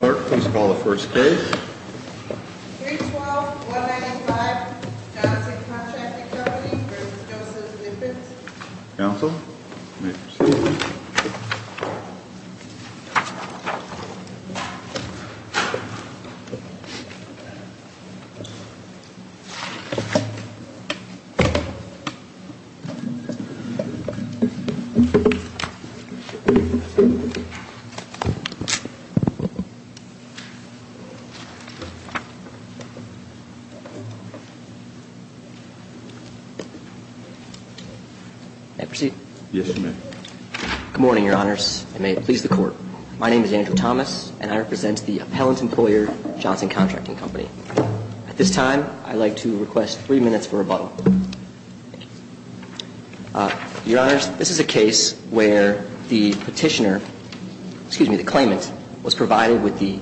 Clerk, please call the first case. 312-195, Johnson Contracting Company v. Joseph Zippins Counsel, you may proceed. May I proceed? Yes, you may. Good morning, Your Honors. I may please the Court. My name is Andrew Thomas, and I represent the Appellant Employer, Johnson Contracting Company. At this time, I'd like to request three minutes for rebuttal. Thank you. Your Honors, this is a case where the Petitioner, excuse me, the claimant, was provided with the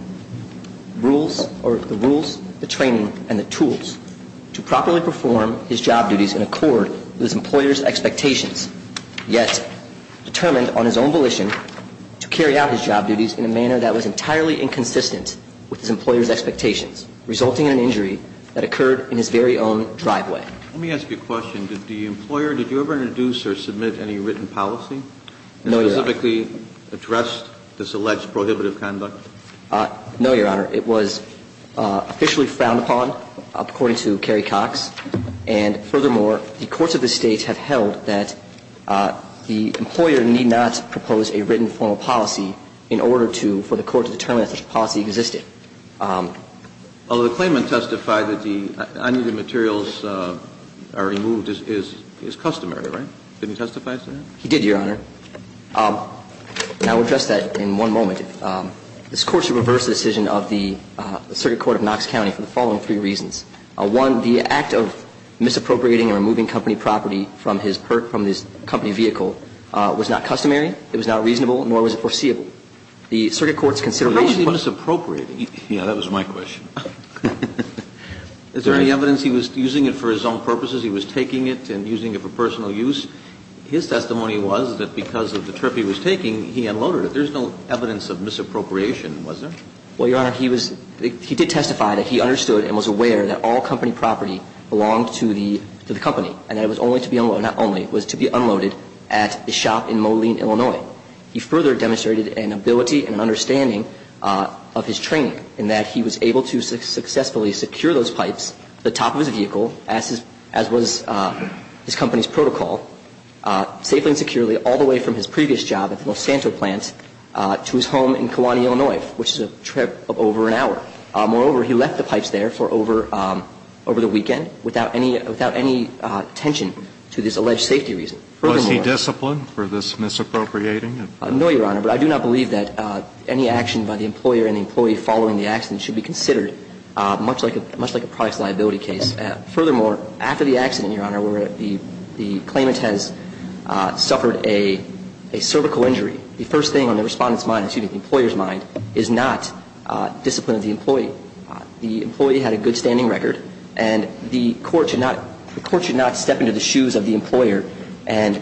rules or the rules, the training, and the tools to properly perform his job duties in accord with his employer's expectations, yet determined on his own volition to carry out his job duties in a manner that was entirely inconsistent with his employer's expectations, resulting in an injury that occurred in his very own driveway. Let me ask you a question. Did the employer, did you ever introduce or submit any written policy that specifically addressed this alleged prohibitive conduct? No, Your Honor. It was officially frowned upon, according to Kerry Cox. And furthermore, the courts of this State have held that the employer need not propose a written formal policy in order to, for the court to determine that such a policy existed. Although the claimant testified that the unneeded materials are removed is customary, right? Didn't he testify to that? He did, Your Honor. And I will address that in one moment. This Court should reverse the decision of the Circuit Court of Knox County for the following three reasons. One, the act of misappropriating or removing company property from his company vehicle was not customary. It was not reasonable, nor was it foreseeable. The Circuit Court's consideration was not reasonable. So the question is, did the employer know that he was misappropriating? Yes, that was my question. Is there any evidence he was using it for his own purposes? He was taking it and using it for personal use? His testimony was that because of the trip he was taking, he unloaded it. There's no evidence of misappropriation, was there? Well, Your Honor, he did testify that he understood and was aware that all company property belonged to the company and that it was only to be unloaded, not only, it was to be unloaded at a shop in Moline, Illinois. He further demonstrated an ability and an understanding of his training, in that he was able to successfully secure those pipes to the top of his vehicle, as was his company's protocol, safely and securely all the way from his previous job at the Los Santos plant to his home in Kewaunee, Illinois, which is a trip of over an hour. Moreover, he left the pipes there for over the weekend without any attention to this alleged safety reason. Was he disciplined for this misappropriating? No, Your Honor. But I do not believe that any action by the employer and the employee following the accident should be considered, much like a products liability case. Furthermore, after the accident, Your Honor, where the claimant has suffered a cervical injury, the first thing on the respondent's mind, excuse me, the employer's mind, is not discipline of the employee. The employee had a good standing record, and the court should not step into the shoes of the employer and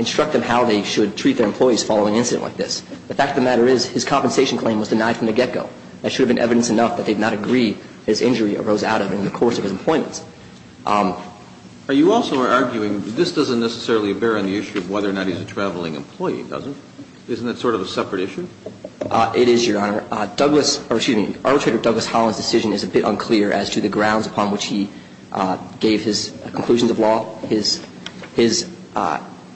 instruct them how they should treat their employees following an incident like this. The fact of the matter is his compensation claim was denied from the get-go. That should have been evidence enough that they would not agree that his injury arose out of it in the course of his employment. Are you also arguing that this doesn't necessarily bear on the issue of whether or not he's a traveling employee, does it? Isn't that sort of a separate issue? It is, Your Honor. Arbitrator Douglas Holland's decision is a bit unclear as to the grounds upon which he gave his conclusions of law. His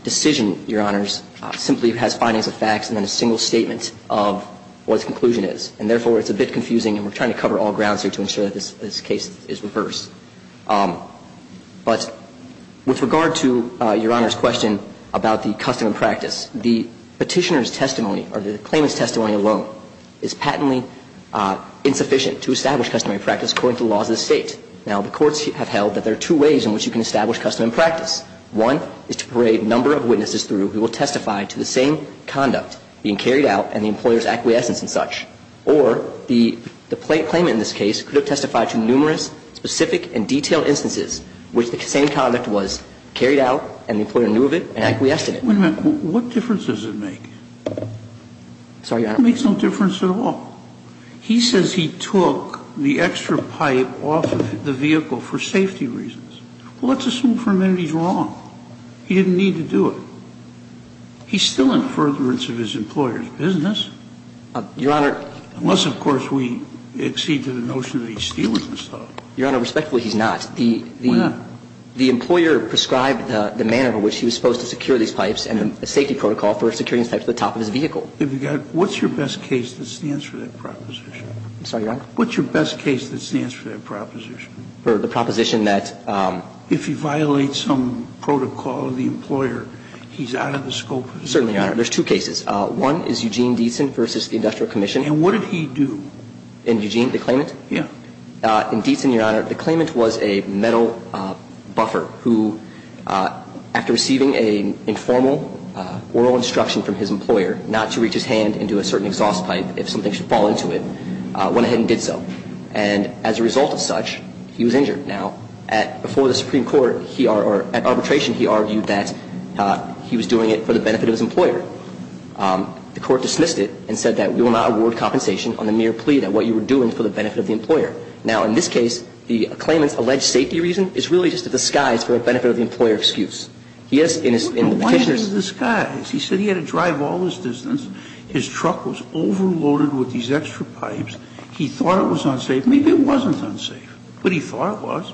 decision, Your Honors, simply has findings of facts and then a single statement of what his conclusion is. And therefore, it's a bit confusing, and we're trying to cover all grounds here to ensure that this case is reversed. But with regard to Your Honor's question about the custom and practice, the Petitioner's testimony or the claimant's testimony alone is patently insufficient to establish customary practice according to the laws of the State. Now, the courts have held that there are two ways in which you can establish custom and practice. One is to parade a number of witnesses through who will testify to the same conduct being carried out and the employer's acquiescence and such. Or the claimant in this case could have testified to numerous specific and detailed instances in which the same conduct was carried out and the employer knew of it and acquiesced in it. Wait a minute. What difference does it make? Sorry, Your Honor. It makes no difference at all. He says he took the extra pipe off of the vehicle for safety reasons. Well, let's assume for a minute he's wrong. He didn't need to do it. He's still in furtherance of his employer's business. Your Honor. Unless, of course, we accede to the notion that he stealers himself. Your Honor, respectfully, he's not. Why not? The employer prescribed the manner in which he was supposed to secure these pipes and the safety protocol for securing these pipes to the top of his vehicle. What's your best case that stands for that proposition? I'm sorry, Your Honor. What's your best case that stands for that proposition? For the proposition that if you violate some protocol of the employer, he's out of the scope of his business. Certainly, Your Honor. There's two cases. One is Eugene Dietzen versus the Industrial Commission. And what did he do? In Eugene? The claimant? Yeah. In Dietzen, Your Honor, the claimant was a metal buffer who, after receiving an informal oral instruction from his employer not to reach his hand into a certain exhaust pipe if something should fall into it, went ahead and did so. And as a result of such, he was injured. Now, before the Supreme Court, at arbitration, he argued that he was doing it for the benefit of the employer. The court dismissed it and said that we will not award compensation on the mere plea that what you were doing is for the benefit of the employer. Now, in this case, the claimant's alleged safety reason is really just a disguise for a benefit of the employer excuse. He is in his petitioners' Why is it a disguise? He said he had to drive all this distance. His truck was overloaded with these extra pipes. He thought it was unsafe. Maybe it wasn't unsafe, but he thought it was.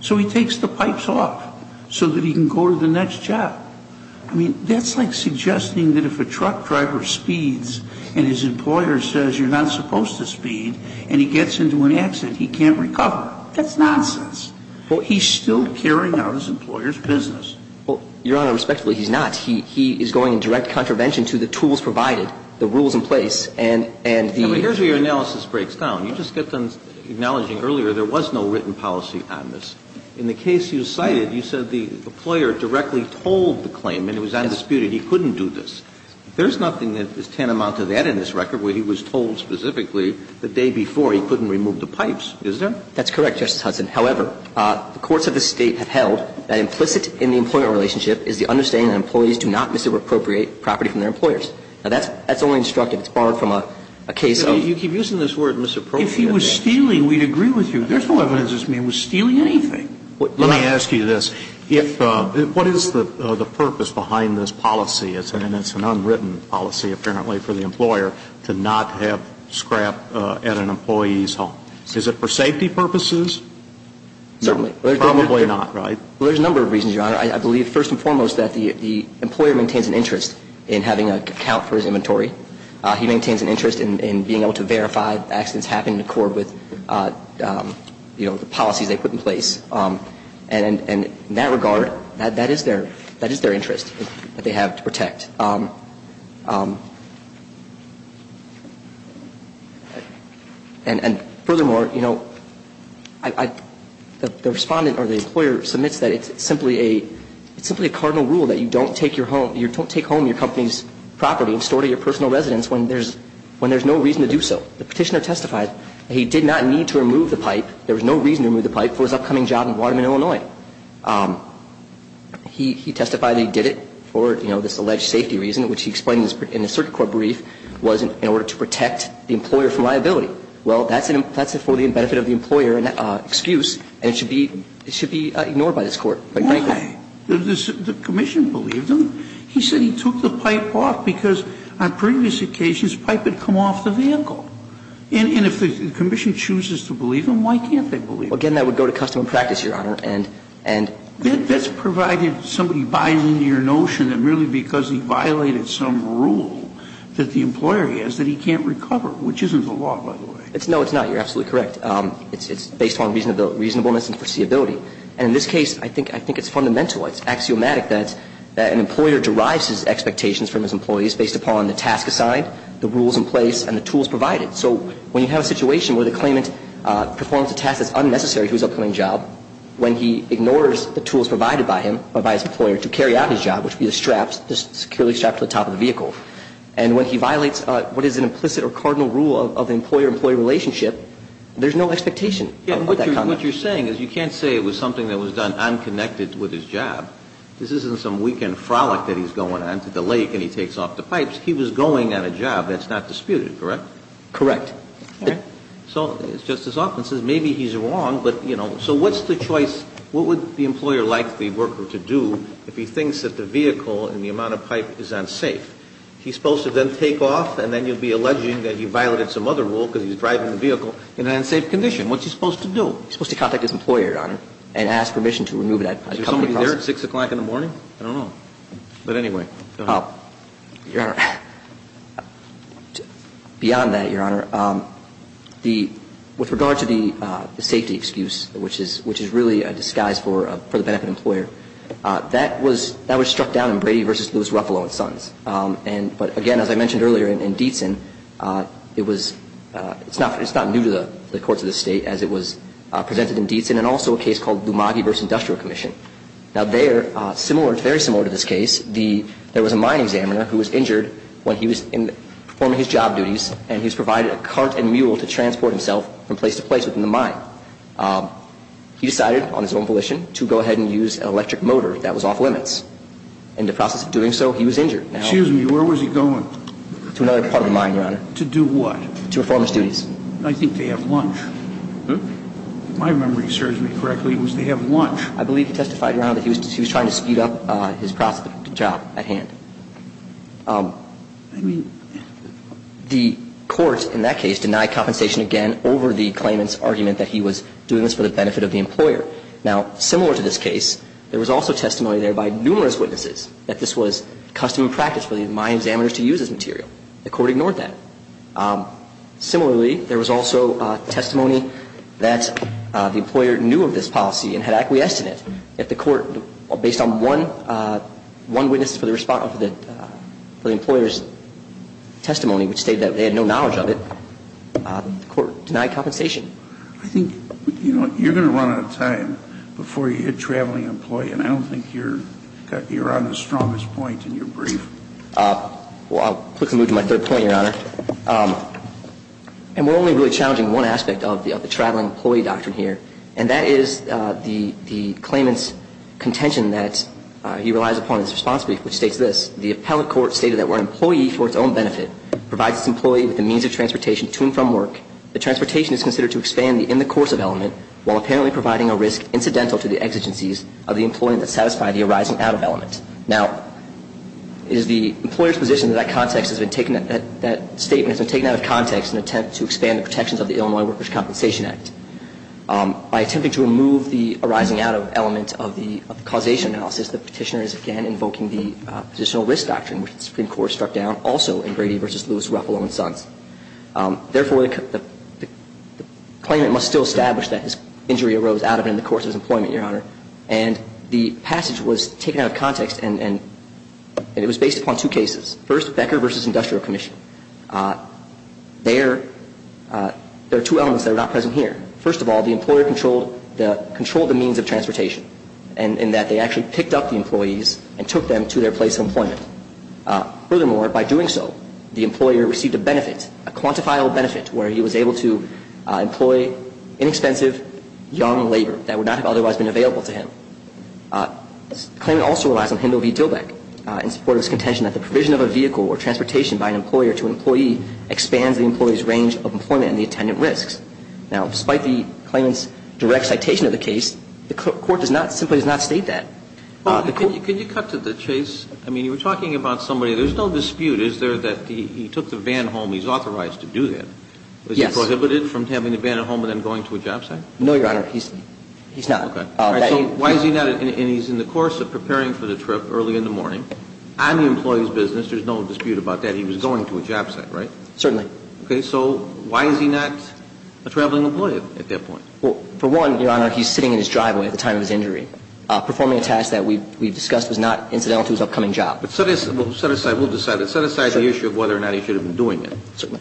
So he takes the pipes off so that he can go to the next job. I mean, that's like suggesting that if a truck driver speeds and his employer says you're not supposed to speed and he gets into an accident, he can't recover. That's nonsense. Well, he's still carrying out his employer's business. Well, Your Honor, respectfully, he's not. He is going in direct contravention to the tools provided, the rules in place, and the And here's where your analysis breaks down. You just kept on acknowledging earlier there was no written policy on this. In the case you cited, you said the employer directly told the claim and it was undisputed he couldn't do this. There's nothing that is tantamount to that in this record where he was told specifically the day before he couldn't remove the pipes, is there? That's correct, Justice Hudson. However, the courts of this State have held that implicit in the employment relationship is the understanding that employees do not misappropriate property from their employers. Now, that's only instructive. It's borrowed from a case of You keep using this word, misappropriate. If he was stealing, we'd agree with you. There's no evidence this man was stealing anything. Let me ask you this. What is the purpose behind this policy? It's an unwritten policy, apparently, for the employer to not have scrap at an employee's home. Is it for safety purposes? Certainly. Probably not, right? Well, there's a number of reasons, Your Honor. I believe, first and foremost, that the employer maintains an interest in having an account for his inventory. He maintains an interest in being able to verify accidents happen in accord with, you know, the policies they put in place. And in that regard, that is their interest that they have to protect. And furthermore, you know, the respondent or the employer submits that it's simply a cardinal rule that you don't take home your company's property and store it at your personal residence when there's no reason to do so. The Petitioner testified that he did not need to remove the pipe. There was no reason to remove the pipe for his upcoming job in Waterman, Illinois. He testified that he did it for, you know, this alleged safety reason, which he explained in the circuit court brief was in order to protect the employer from liability. Well, that's for the benefit of the employer, an excuse, and it should be ignored by this Court. Why? The commission believed him. He said he took the pipe off because on previous occasions pipe had come off the vehicle. And if the commission chooses to believe him, why can't they believe him? Again, that would go to custom and practice, Your Honor. And that's provided somebody buys into your notion that merely because he violated some rule that the employer has that he can't recover, which isn't the law, by the way. No, it's not. You're absolutely correct. It's based on reasonableness and foreseeability. And in this case, I think it's fundamental. It's axiomatic that an employer derives his expectations from his employees based upon the task assigned, the rules in place, and the tools provided. So when you have a situation where the claimant performs a task that's unnecessary to his upcoming job, when he ignores the tools provided by him or by his employer to carry out his job, which would be the straps, the security straps to the top of the vehicle, and when he violates what is an implicit or cardinal rule of employer-employee relationship, there's no expectation of that conduct. But what you're saying is you can't say it was something that was done unconnected with his job. This isn't some weekend frolic that he's going on to the lake and he takes off the pipes. He was going on a job that's not disputed, correct? Correct. All right. So Justice Offen says maybe he's wrong, but, you know, so what's the choice? What would the employer like the worker to do if he thinks that the vehicle and the amount of pipe is unsafe? He's supposed to then take off, and then you'll be alleging that he violated some other rule because he's driving the vehicle in an unsafe condition. What's he supposed to do? He's supposed to contact his employer, Your Honor, and ask permission to remove that company process. Is there somebody there at 6 o'clock in the morning? I don't know. But anyway, go ahead. Your Honor, beyond that, Your Honor, with regard to the safety excuse, which is really a disguise for the benefit of the employer, that was struck down in Brady v. Lewis Ruffalo and Sons. But again, as I mentioned earlier in Dietzen, it's not new to the courts of the state as it was presented in Dietzen, and also a case called Lumagi v. Industrial Commission. Now there, very similar to this case, there was a mine examiner who was injured when he was performing his job duties, and he was provided a cart and mule to transport himself from place to place within the mine. He decided on his own volition to go ahead and use an electric motor that was off limits. In the process of doing so, he was injured. Excuse me. Where was he going? To another part of the mine, Your Honor. To do what? To perform his duties. I think they have lunch. My memory serves me correctly. It was they have lunch. I believe he testified, Your Honor, that he was trying to speed up his job at hand. I mean, the court in that case denied compensation again over the claimant's argument that he was doing this for the benefit of the employer. Now, similar to this case, there was also testimony there by numerous witnesses that this was custom and practice for the mine examiners to use this material. The court ignored that. Similarly, there was also testimony that the employer knew of this policy and had acquiesced in it. Yet the court, based on one witness for the employer's testimony, which stated that they had no knowledge of it, the court denied compensation. I think, you know, you're going to run out of time before you hit traveling employee, and I don't think you're on the strongest point in your brief. Well, I'll quickly move to my third point, Your Honor. And we're only really challenging one aspect of the traveling employee doctrine here, and that is the claimant's contention that he relies upon his responsibility, which states this. The appellate court stated that where an employee, for its own benefit, provides its employee with the means of transportation to and from work, the transportation is considered to expand the in the course of element, while apparently providing a risk incidental to the exigencies of the employee that satisfied the arising out of element. Now, it is the employer's position that that statement has been taken out of context in an attempt to expand the protections of the Illinois Workers' Compensation Act. By attempting to remove the arising out of element of the causation analysis, the petitioner is, again, invoking the positional risk doctrine, which the Supreme Court struck down also in Brady v. Lewis, Ruffalo, and Sons. Therefore, the claimant must still establish that his injury arose out of and in the course of his employment, Your Honor. And the passage was taken out of context, and it was based upon two cases. First, Becker v. Industrial Commission. There are two elements that are not present here. First of all, the employer controlled the means of transportation, in that they Furthermore, by doing so, the employer received a benefit, a quantifiable benefit, where he was able to employ inexpensive, young labor that would not have otherwise been available to him. The claimant also relies on Hindle v. Dillbeck in support of his contention that the provision of a vehicle or transportation by an employer to an employee expands the employee's range of employment and the attendant risks. Now, despite the claimant's direct citation of the case, the court simply does not state that. Well, can you cut to the chase? I mean, you were talking about somebody. There's no dispute. Is there that he took the van home? He's authorized to do that. Yes. Was he prohibited from having the van at home and then going to a job site? No, Your Honor. He's not. Okay. So why is he not? And he's in the course of preparing for the trip early in the morning. On the employee's business, there's no dispute about that. He was going to a job site, right? Certainly. Okay. So why is he not a traveling employee at that point? Well, for one, Your Honor, he's sitting in his driveway at the time of his injury performing a task that we've discussed was not incidental to his upcoming job. But set aside the issue of whether or not he should have been doing it. Certainly.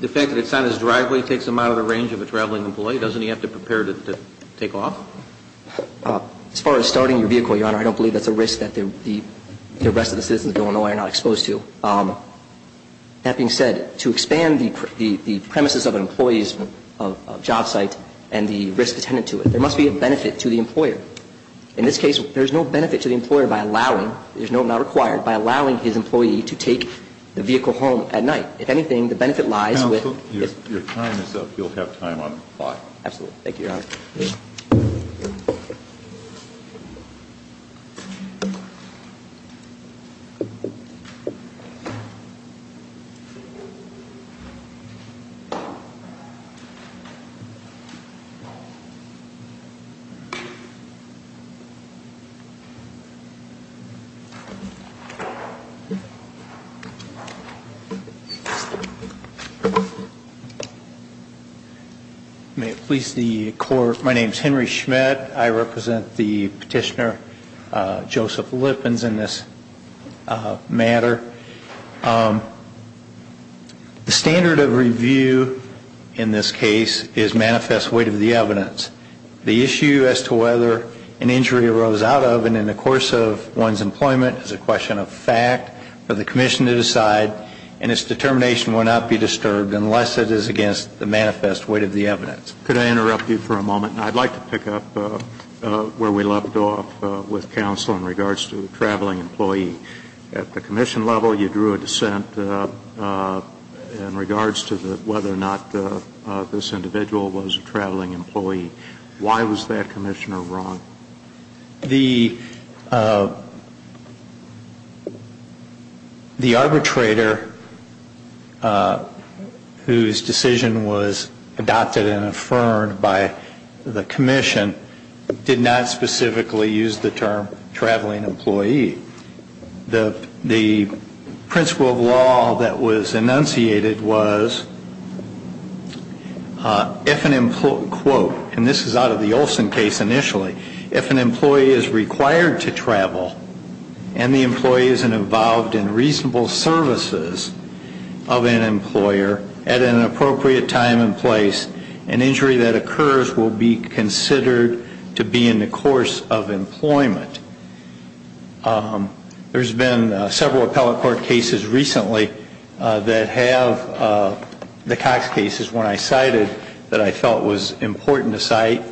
The fact that it's on his driveway takes him out of the range of a traveling employee. Doesn't he have to prepare to take off? As far as starting your vehicle, Your Honor, I don't believe that's a risk that the rest of the citizens of Illinois are not exposed to. That being said, to expand the premises of an employee's job site and the risk attendant to it, there must be a benefit to the employer. In this case, there's no benefit to the employer by allowing, there's no not required, by allowing his employee to take the vehicle home at night. If anything, the benefit lies with. Counsel, your time is up. You'll have time on the clock. Absolutely. Thank you, Your Honor. Thank you. My name is Henry Schmidt. I represent the petitioner, Joseph Lippins, in this matter. The standard of review in this case is manifest weight of the evidence. The issue as to whether an injury arose out of and in the course of one's employment is a question of fact for the commission to decide, and its determination will not be disturbed unless it is against the manifest weight of the evidence. Could I interrupt you for a moment? I'd like to pick up where we left off with counsel in regards to the traveling employee. At the commission level, you drew a dissent in regards to whether or not this individual was a traveling employee. Why was that commissioner wrong? The arbitrator whose decision was adopted and affirmed by the commission did not specifically use the term traveling employee. The principle of law that was enunciated was if an employee, quote, and this is out of the Olson case initially, if an employee is required to travel and the employee is involved in reasonable services of an employer at an appropriate time and place, an injury that occurs will be considered to be in the course of employment. There's been several appellate court cases recently that have the Cox cases when I cited that I felt was important to cite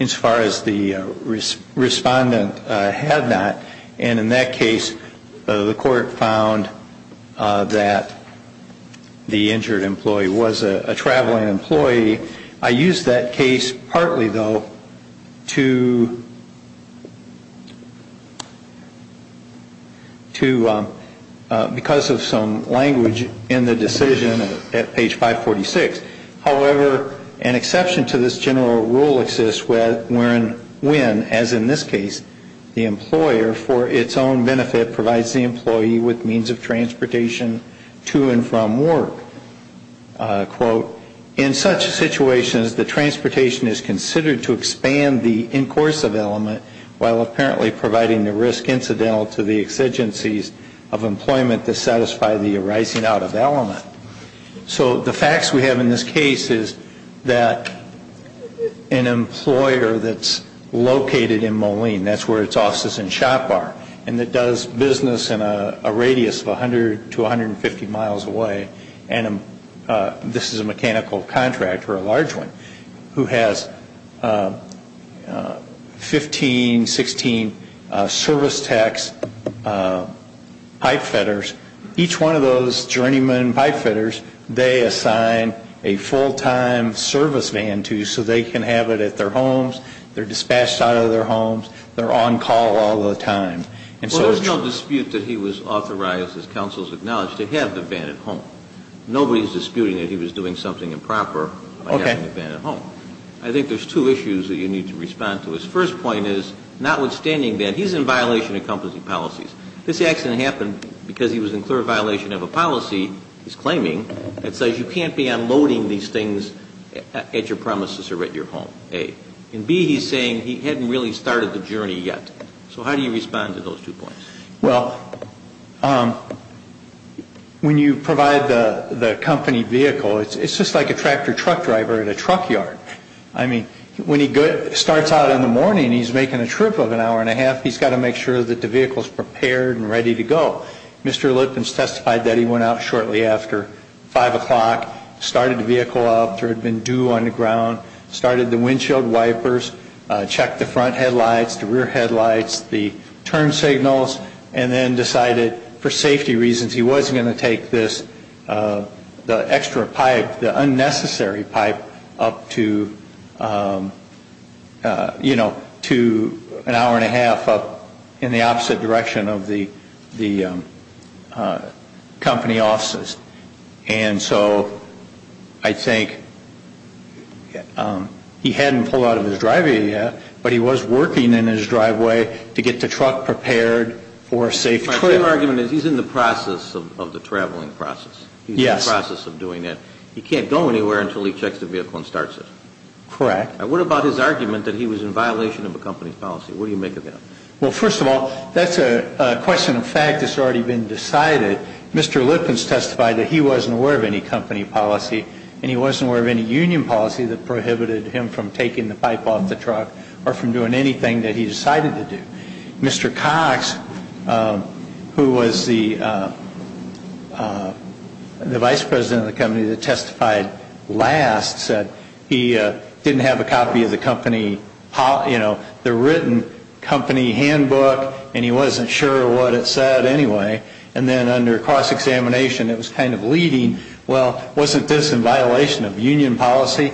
as far as the respondent had not. And in that case, the court found that the injured employee was a traveling employee. I used that case partly, though, to, because of some language in the decision at page 546. However, an exception to this general rule exists wherein, as in this case, the employer for its own benefit provides the employee with means of transportation to and from work. Quote, in such situations, the transportation is considered to expand the in course of element while apparently providing the risk incidental to the exigencies of employment to satisfy the arising out of element. So the facts we have in this case is that an employer that's located in Moline, that's where its offices and that does business in a radius of 100 to 150 miles away, and this is a mechanical contractor, a large one, who has 15, 16 service tax pipe fitters. Each one of those journeymen pipe fitters, they assign a full-time service van to so they can have it at their There's no dispute that he was authorized, as counsel has acknowledged, to have the van at home. Nobody is disputing that he was doing something improper by having the van at home. I think there's two issues that you need to respond to. His first point is, notwithstanding that, he's in violation of company policies. This accident happened because he was in clear violation of a policy, he's claiming, that says you can't be unloading these things at your premises or at your home, A. And B, he's saying he hadn't really started the journey yet. So how do you respond to those two points? Well, when you provide the company vehicle, it's just like a tractor-truck driver in a truck yard. I mean, when he starts out in the morning, he's making a trip of an hour and a half, he's got to make sure that the vehicle is prepared and ready to go. Mr. Lippens testified that he went out shortly after 5 o'clock, started the vehicle up, there had been dew on the ground, started the windshield wipers, checked the front headlights, the rear headlights, the turn signals, and then decided, for safety reasons, he wasn't going to take this, the extra pipe, the unnecessary pipe, up to, you know, to an hour and a half up in the opposite direction of the company offices. And so I think he hadn't pulled out of his driveway yet, but he was working in his driveway to get the truck prepared for a safe trip. My argument is he's in the process of the traveling process. Yes. He's in the process of doing it. He can't go anywhere until he checks the vehicle and starts it. Correct. What about his argument that he was in violation of the company's policy? What do you make of that? Well, first of all, that's a question of fact that's already been decided. Mr. Lippens testified that he wasn't aware of any company policy and he wasn't aware of any union policy that prohibited him from taking the pipe off the truck or from doing anything that he decided to do. Mr. Cox, who was the vice president of the company that testified last, said he didn't have a copy of the company, you know, the written company handbook, and he wasn't sure what it said anyway. And then under cross-examination, it was kind of leading, well, wasn't this in violation of union policy?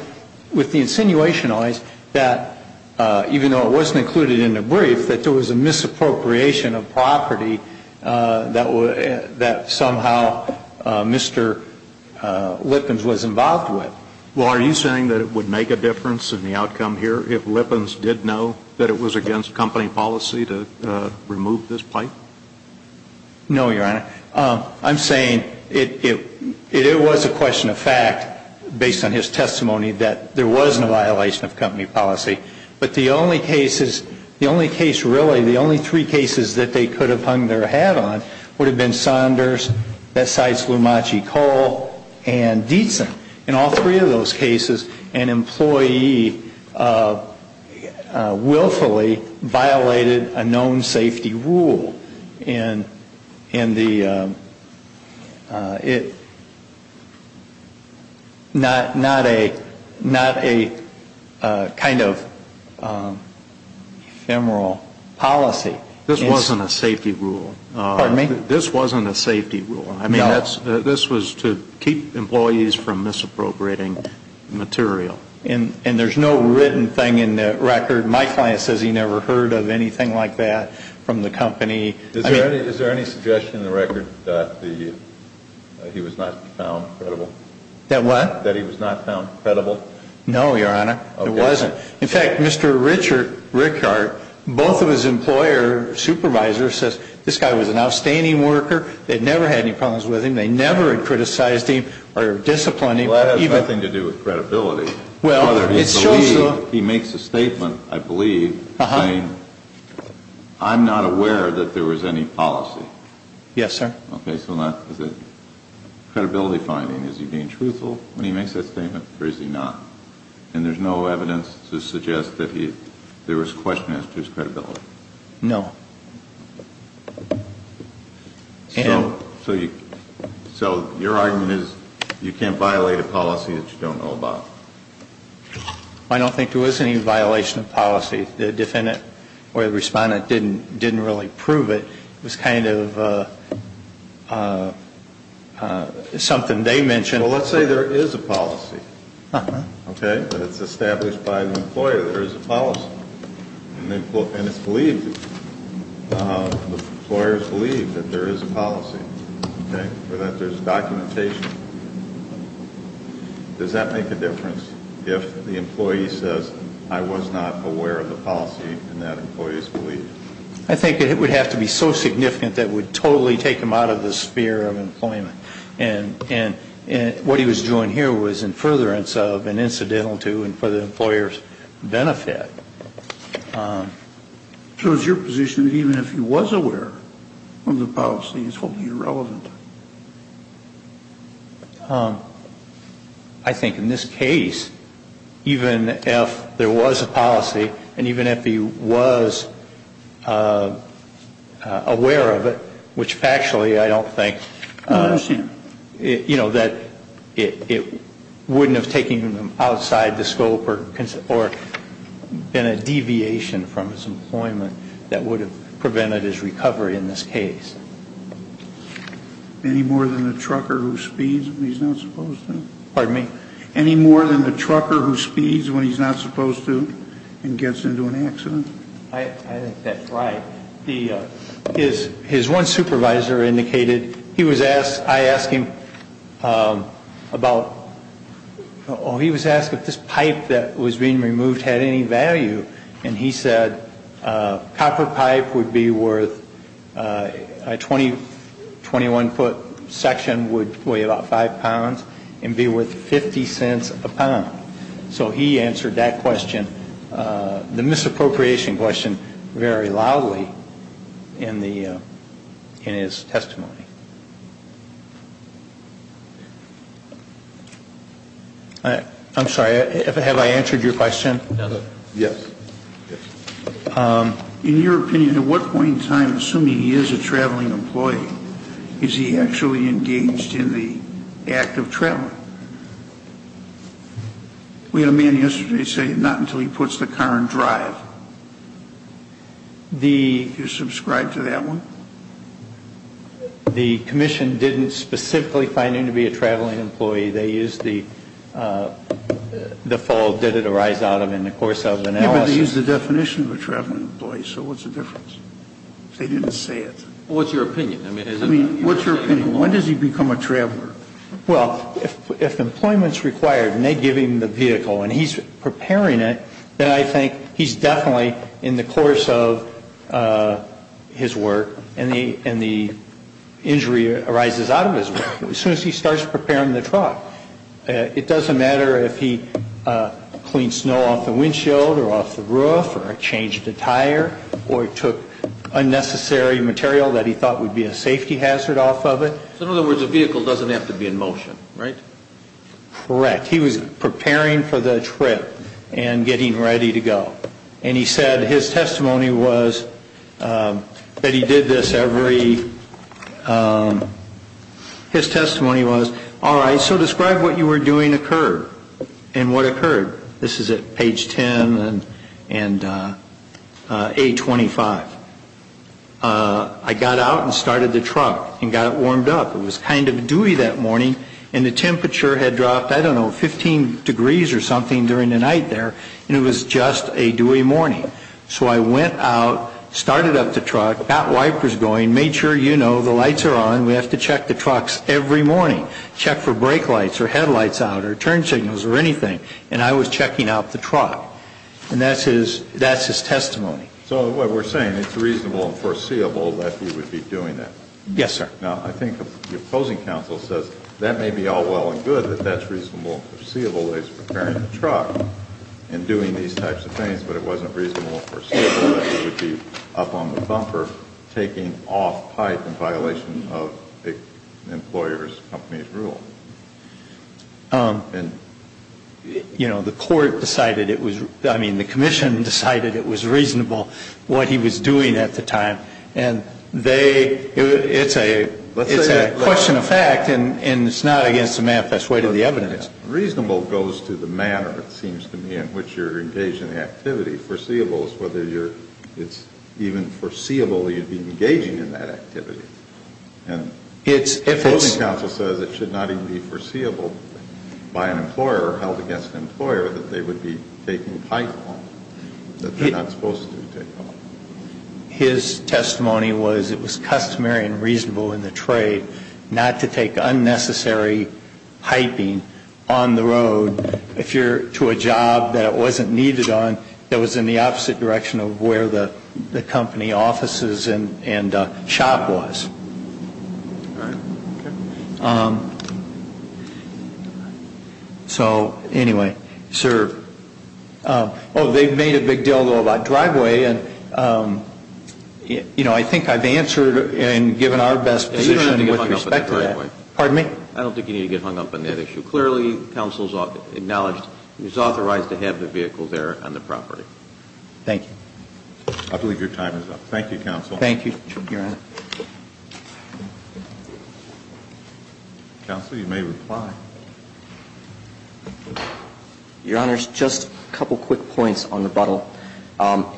No, Your Honor. I'm saying it was a question of fact based on his testimony that he was in violation of the company's policy, that there was no violation of company policy, but the only cases, the only case really, the only three cases that they could have hung their hat on would have been Saunders, Bessides, Lumachi, Cole, and Dietzen. In all three of those cases, an employee willfully violated a known safety rule in the, it, not a kind of ephemeral policy. This wasn't a safety rule. Pardon me? This wasn't a safety rule. No. This was to keep employees from misappropriating material. And there's no written thing in the record. My client says he never heard of anything like that from the company. Is there any suggestion in the record that he was not found credible? That what? That he was not found credible? No, Your Honor. Okay. It wasn't. In fact, Mr. Richard Rickhardt, both of his employer supervisors says this guy was an outstanding worker. They'd never had any problems with him. They never had criticized him or disciplined him. Well, that has nothing to do with credibility. Well, it shows so. He makes a statement, I believe, saying I'm not aware that there was any policy. Yes, sir. Okay. So not, is it credibility finding? Is he being truthful when he makes that statement or is he not? And there's no evidence to suggest that there was question as to his credibility? No. So your argument is you can't violate a policy that you don't know about? I don't think there was any violation of policy. The defendant or the respondent didn't really prove it. It was kind of something they mentioned. Well, let's say there is a policy. Okay. But it's established by the employer there is a policy. And it's believed. The employers believe that there is a policy. Okay. Or that there's documentation. Does that make a difference if the employee says I was not aware of the policy and that employee's belief? I think it would have to be so significant that it would totally take him out of the sphere of employment. And what he was doing here was in furtherance of an incidental to and for the employer's benefit. So is your position that even if he was aware of the policy, it's totally irrelevant? I think in this case, even if there was a policy and even if he was aware of it, which factually I don't think. I understand. You know, that it wouldn't have taken him outside the scope or been a deviation from his employment that would have prevented his recovery in this case. Any more than the trucker who speeds when he's not supposed to? Pardon me? Any more than the trucker who speeds when he's not supposed to and gets into an accident? I think that's right. His one supervisor indicated he was asked, I asked him about, oh, he was asked if this pipe that was being removed had any value. And he said copper pipe would be worth, a 21-foot section would weigh about five pounds and be worth 50 cents a pound. So he answered that question, the misappropriation question, very loudly in the, in his testimony. I'm sorry. Have I answered your question? Yes. In your opinion, at what point in time, assuming he is a traveling employee, is he actually engaged in the act of traveling? We had a man yesterday say not until he puts the car in drive. Do you subscribe to that one? The commission didn't specifically find him to be a traveling employee. They used the full did it arise out of in the course of analysis. Yeah, but they used the definition of a traveling employee. So what's the difference? They didn't say it. What's your opinion? I mean, what's your opinion? When does he become a traveler? Well, if employment is required and they give him the vehicle and he's preparing it, then I think he's definitely in the course of his work and the injury arises out of his work. As soon as he starts preparing the truck. It doesn't matter if he cleaned snow off the windshield or off the roof or changed the tire or took unnecessary material that he thought would be a safety hazard off of it. So in other words, the vehicle doesn't have to be in motion, right? Correct. He was preparing for the trip and getting ready to go. And he said his testimony was that he did this every, his testimony was, all right, so describe what you were doing occurred and what occurred. This is at page 10 and A25. I got out and started the truck and got it warmed up. It was kind of dewy that morning and the temperature had dropped, I don't know, 15 degrees or something during the night there and it was just a dewy morning. So I went out, started up the truck, got wipers going, made sure, you know, the lights are on, we have to check the trucks every morning, check for brake lights or headlights out or turn signals or anything, and I was checking out the truck. And that's his testimony. So what we're saying, it's reasonable and foreseeable that he would be doing that. Yes, sir. Now, I think the opposing counsel says that may be all well and good that that's reasonable and foreseeable that he's preparing the truck and doing these types of things, but it wasn't reasonable and foreseeable that he would be up on the bumper taking off pipe in violation of an employer's company's rule. And, you know, the court decided it was, I mean, the commission decided it was reasonable what he was doing at the time. And they, it's a question of fact and it's not against the manifest way to the evidence. Reasonable goes to the manner, it seems to me, in which you're engaged in the activity. Foreseeable is whether it's even foreseeable that you'd be engaging in that activity. And the opposing counsel says it should not even be foreseeable by an employer or held against an employer that they would be taking pipe off, that they're not supposed to take off. His testimony was it was customary and reasonable in the trade not to take unnecessary piping on the road if you're to a job that it wasn't needed on that was in the opposite direction of where the company offices and shop was. So, anyway, sir. Oh, they've made a big deal, though, about driveway. And, you know, I think I've answered and given our best position with respect to that. Pardon me? I don't think you need to get hung up on that issue. Clearly, counsel's acknowledged he's authorized to have the vehicle there on the property. Thank you. I believe your time is up. Thank you, counsel. Thank you, Your Honor. Counsel, you may reply. Your Honor, just a couple quick points on rebuttal.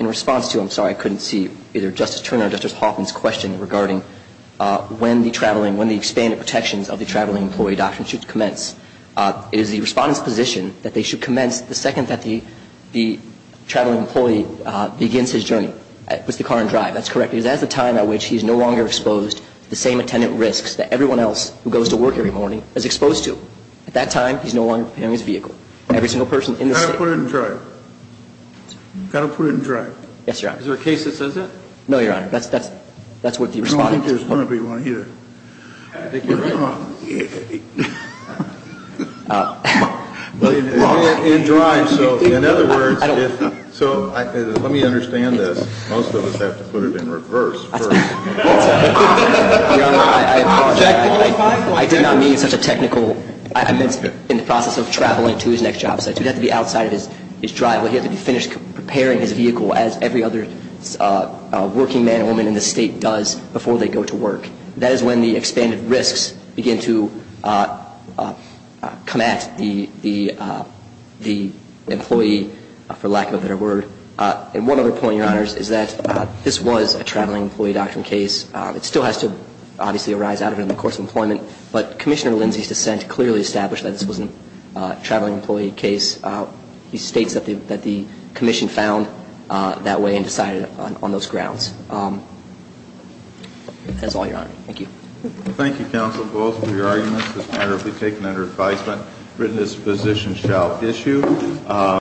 In response to, I'm sorry, I couldn't see either Justice Turner or Justice Hoffman's question regarding when the traveling when the expanded protections of the traveling employee adoption should commence. It is the Respondent's position that they should commence the second that the traveling employee begins his journey, puts the car in drive. That's correct, because that's the time at which he's no longer exposed to the same attendant risks that everyone else who goes to work every morning is exposed to. At that time, he's no longer in his vehicle. Every single person in the State. You've got to put it in drive. You've got to put it in drive. Yes, Your Honor. Is there a case that says that? That's what the Respondent's position is. I don't think there's going to be one either. I think you're right. Well, in drive, so in other words, so let me understand this. Most of us have to put it in reverse first. Your Honor, I apologize. I did not mean such a technical. I meant in the process of traveling to his next job site. He'd have to be outside of his driveway. He'd have to be finished preparing his vehicle as every other working man or woman in the State does before they go to work. That is when the expanded risks begin to come at the employee, for lack of a better word. And one other point, Your Honor, is that this was a traveling employee doctrine case. It still has to obviously arise out of it in the course of employment. But Commissioner Lindsay's dissent clearly established that this was a traveling employee case. He states that the Commission found that way and decided on those grounds. That's all, Your Honor. Thank you. Thank you, Counsel Bowles, for your arguments. This matter will be taken under advisement. Written disposition shall issue.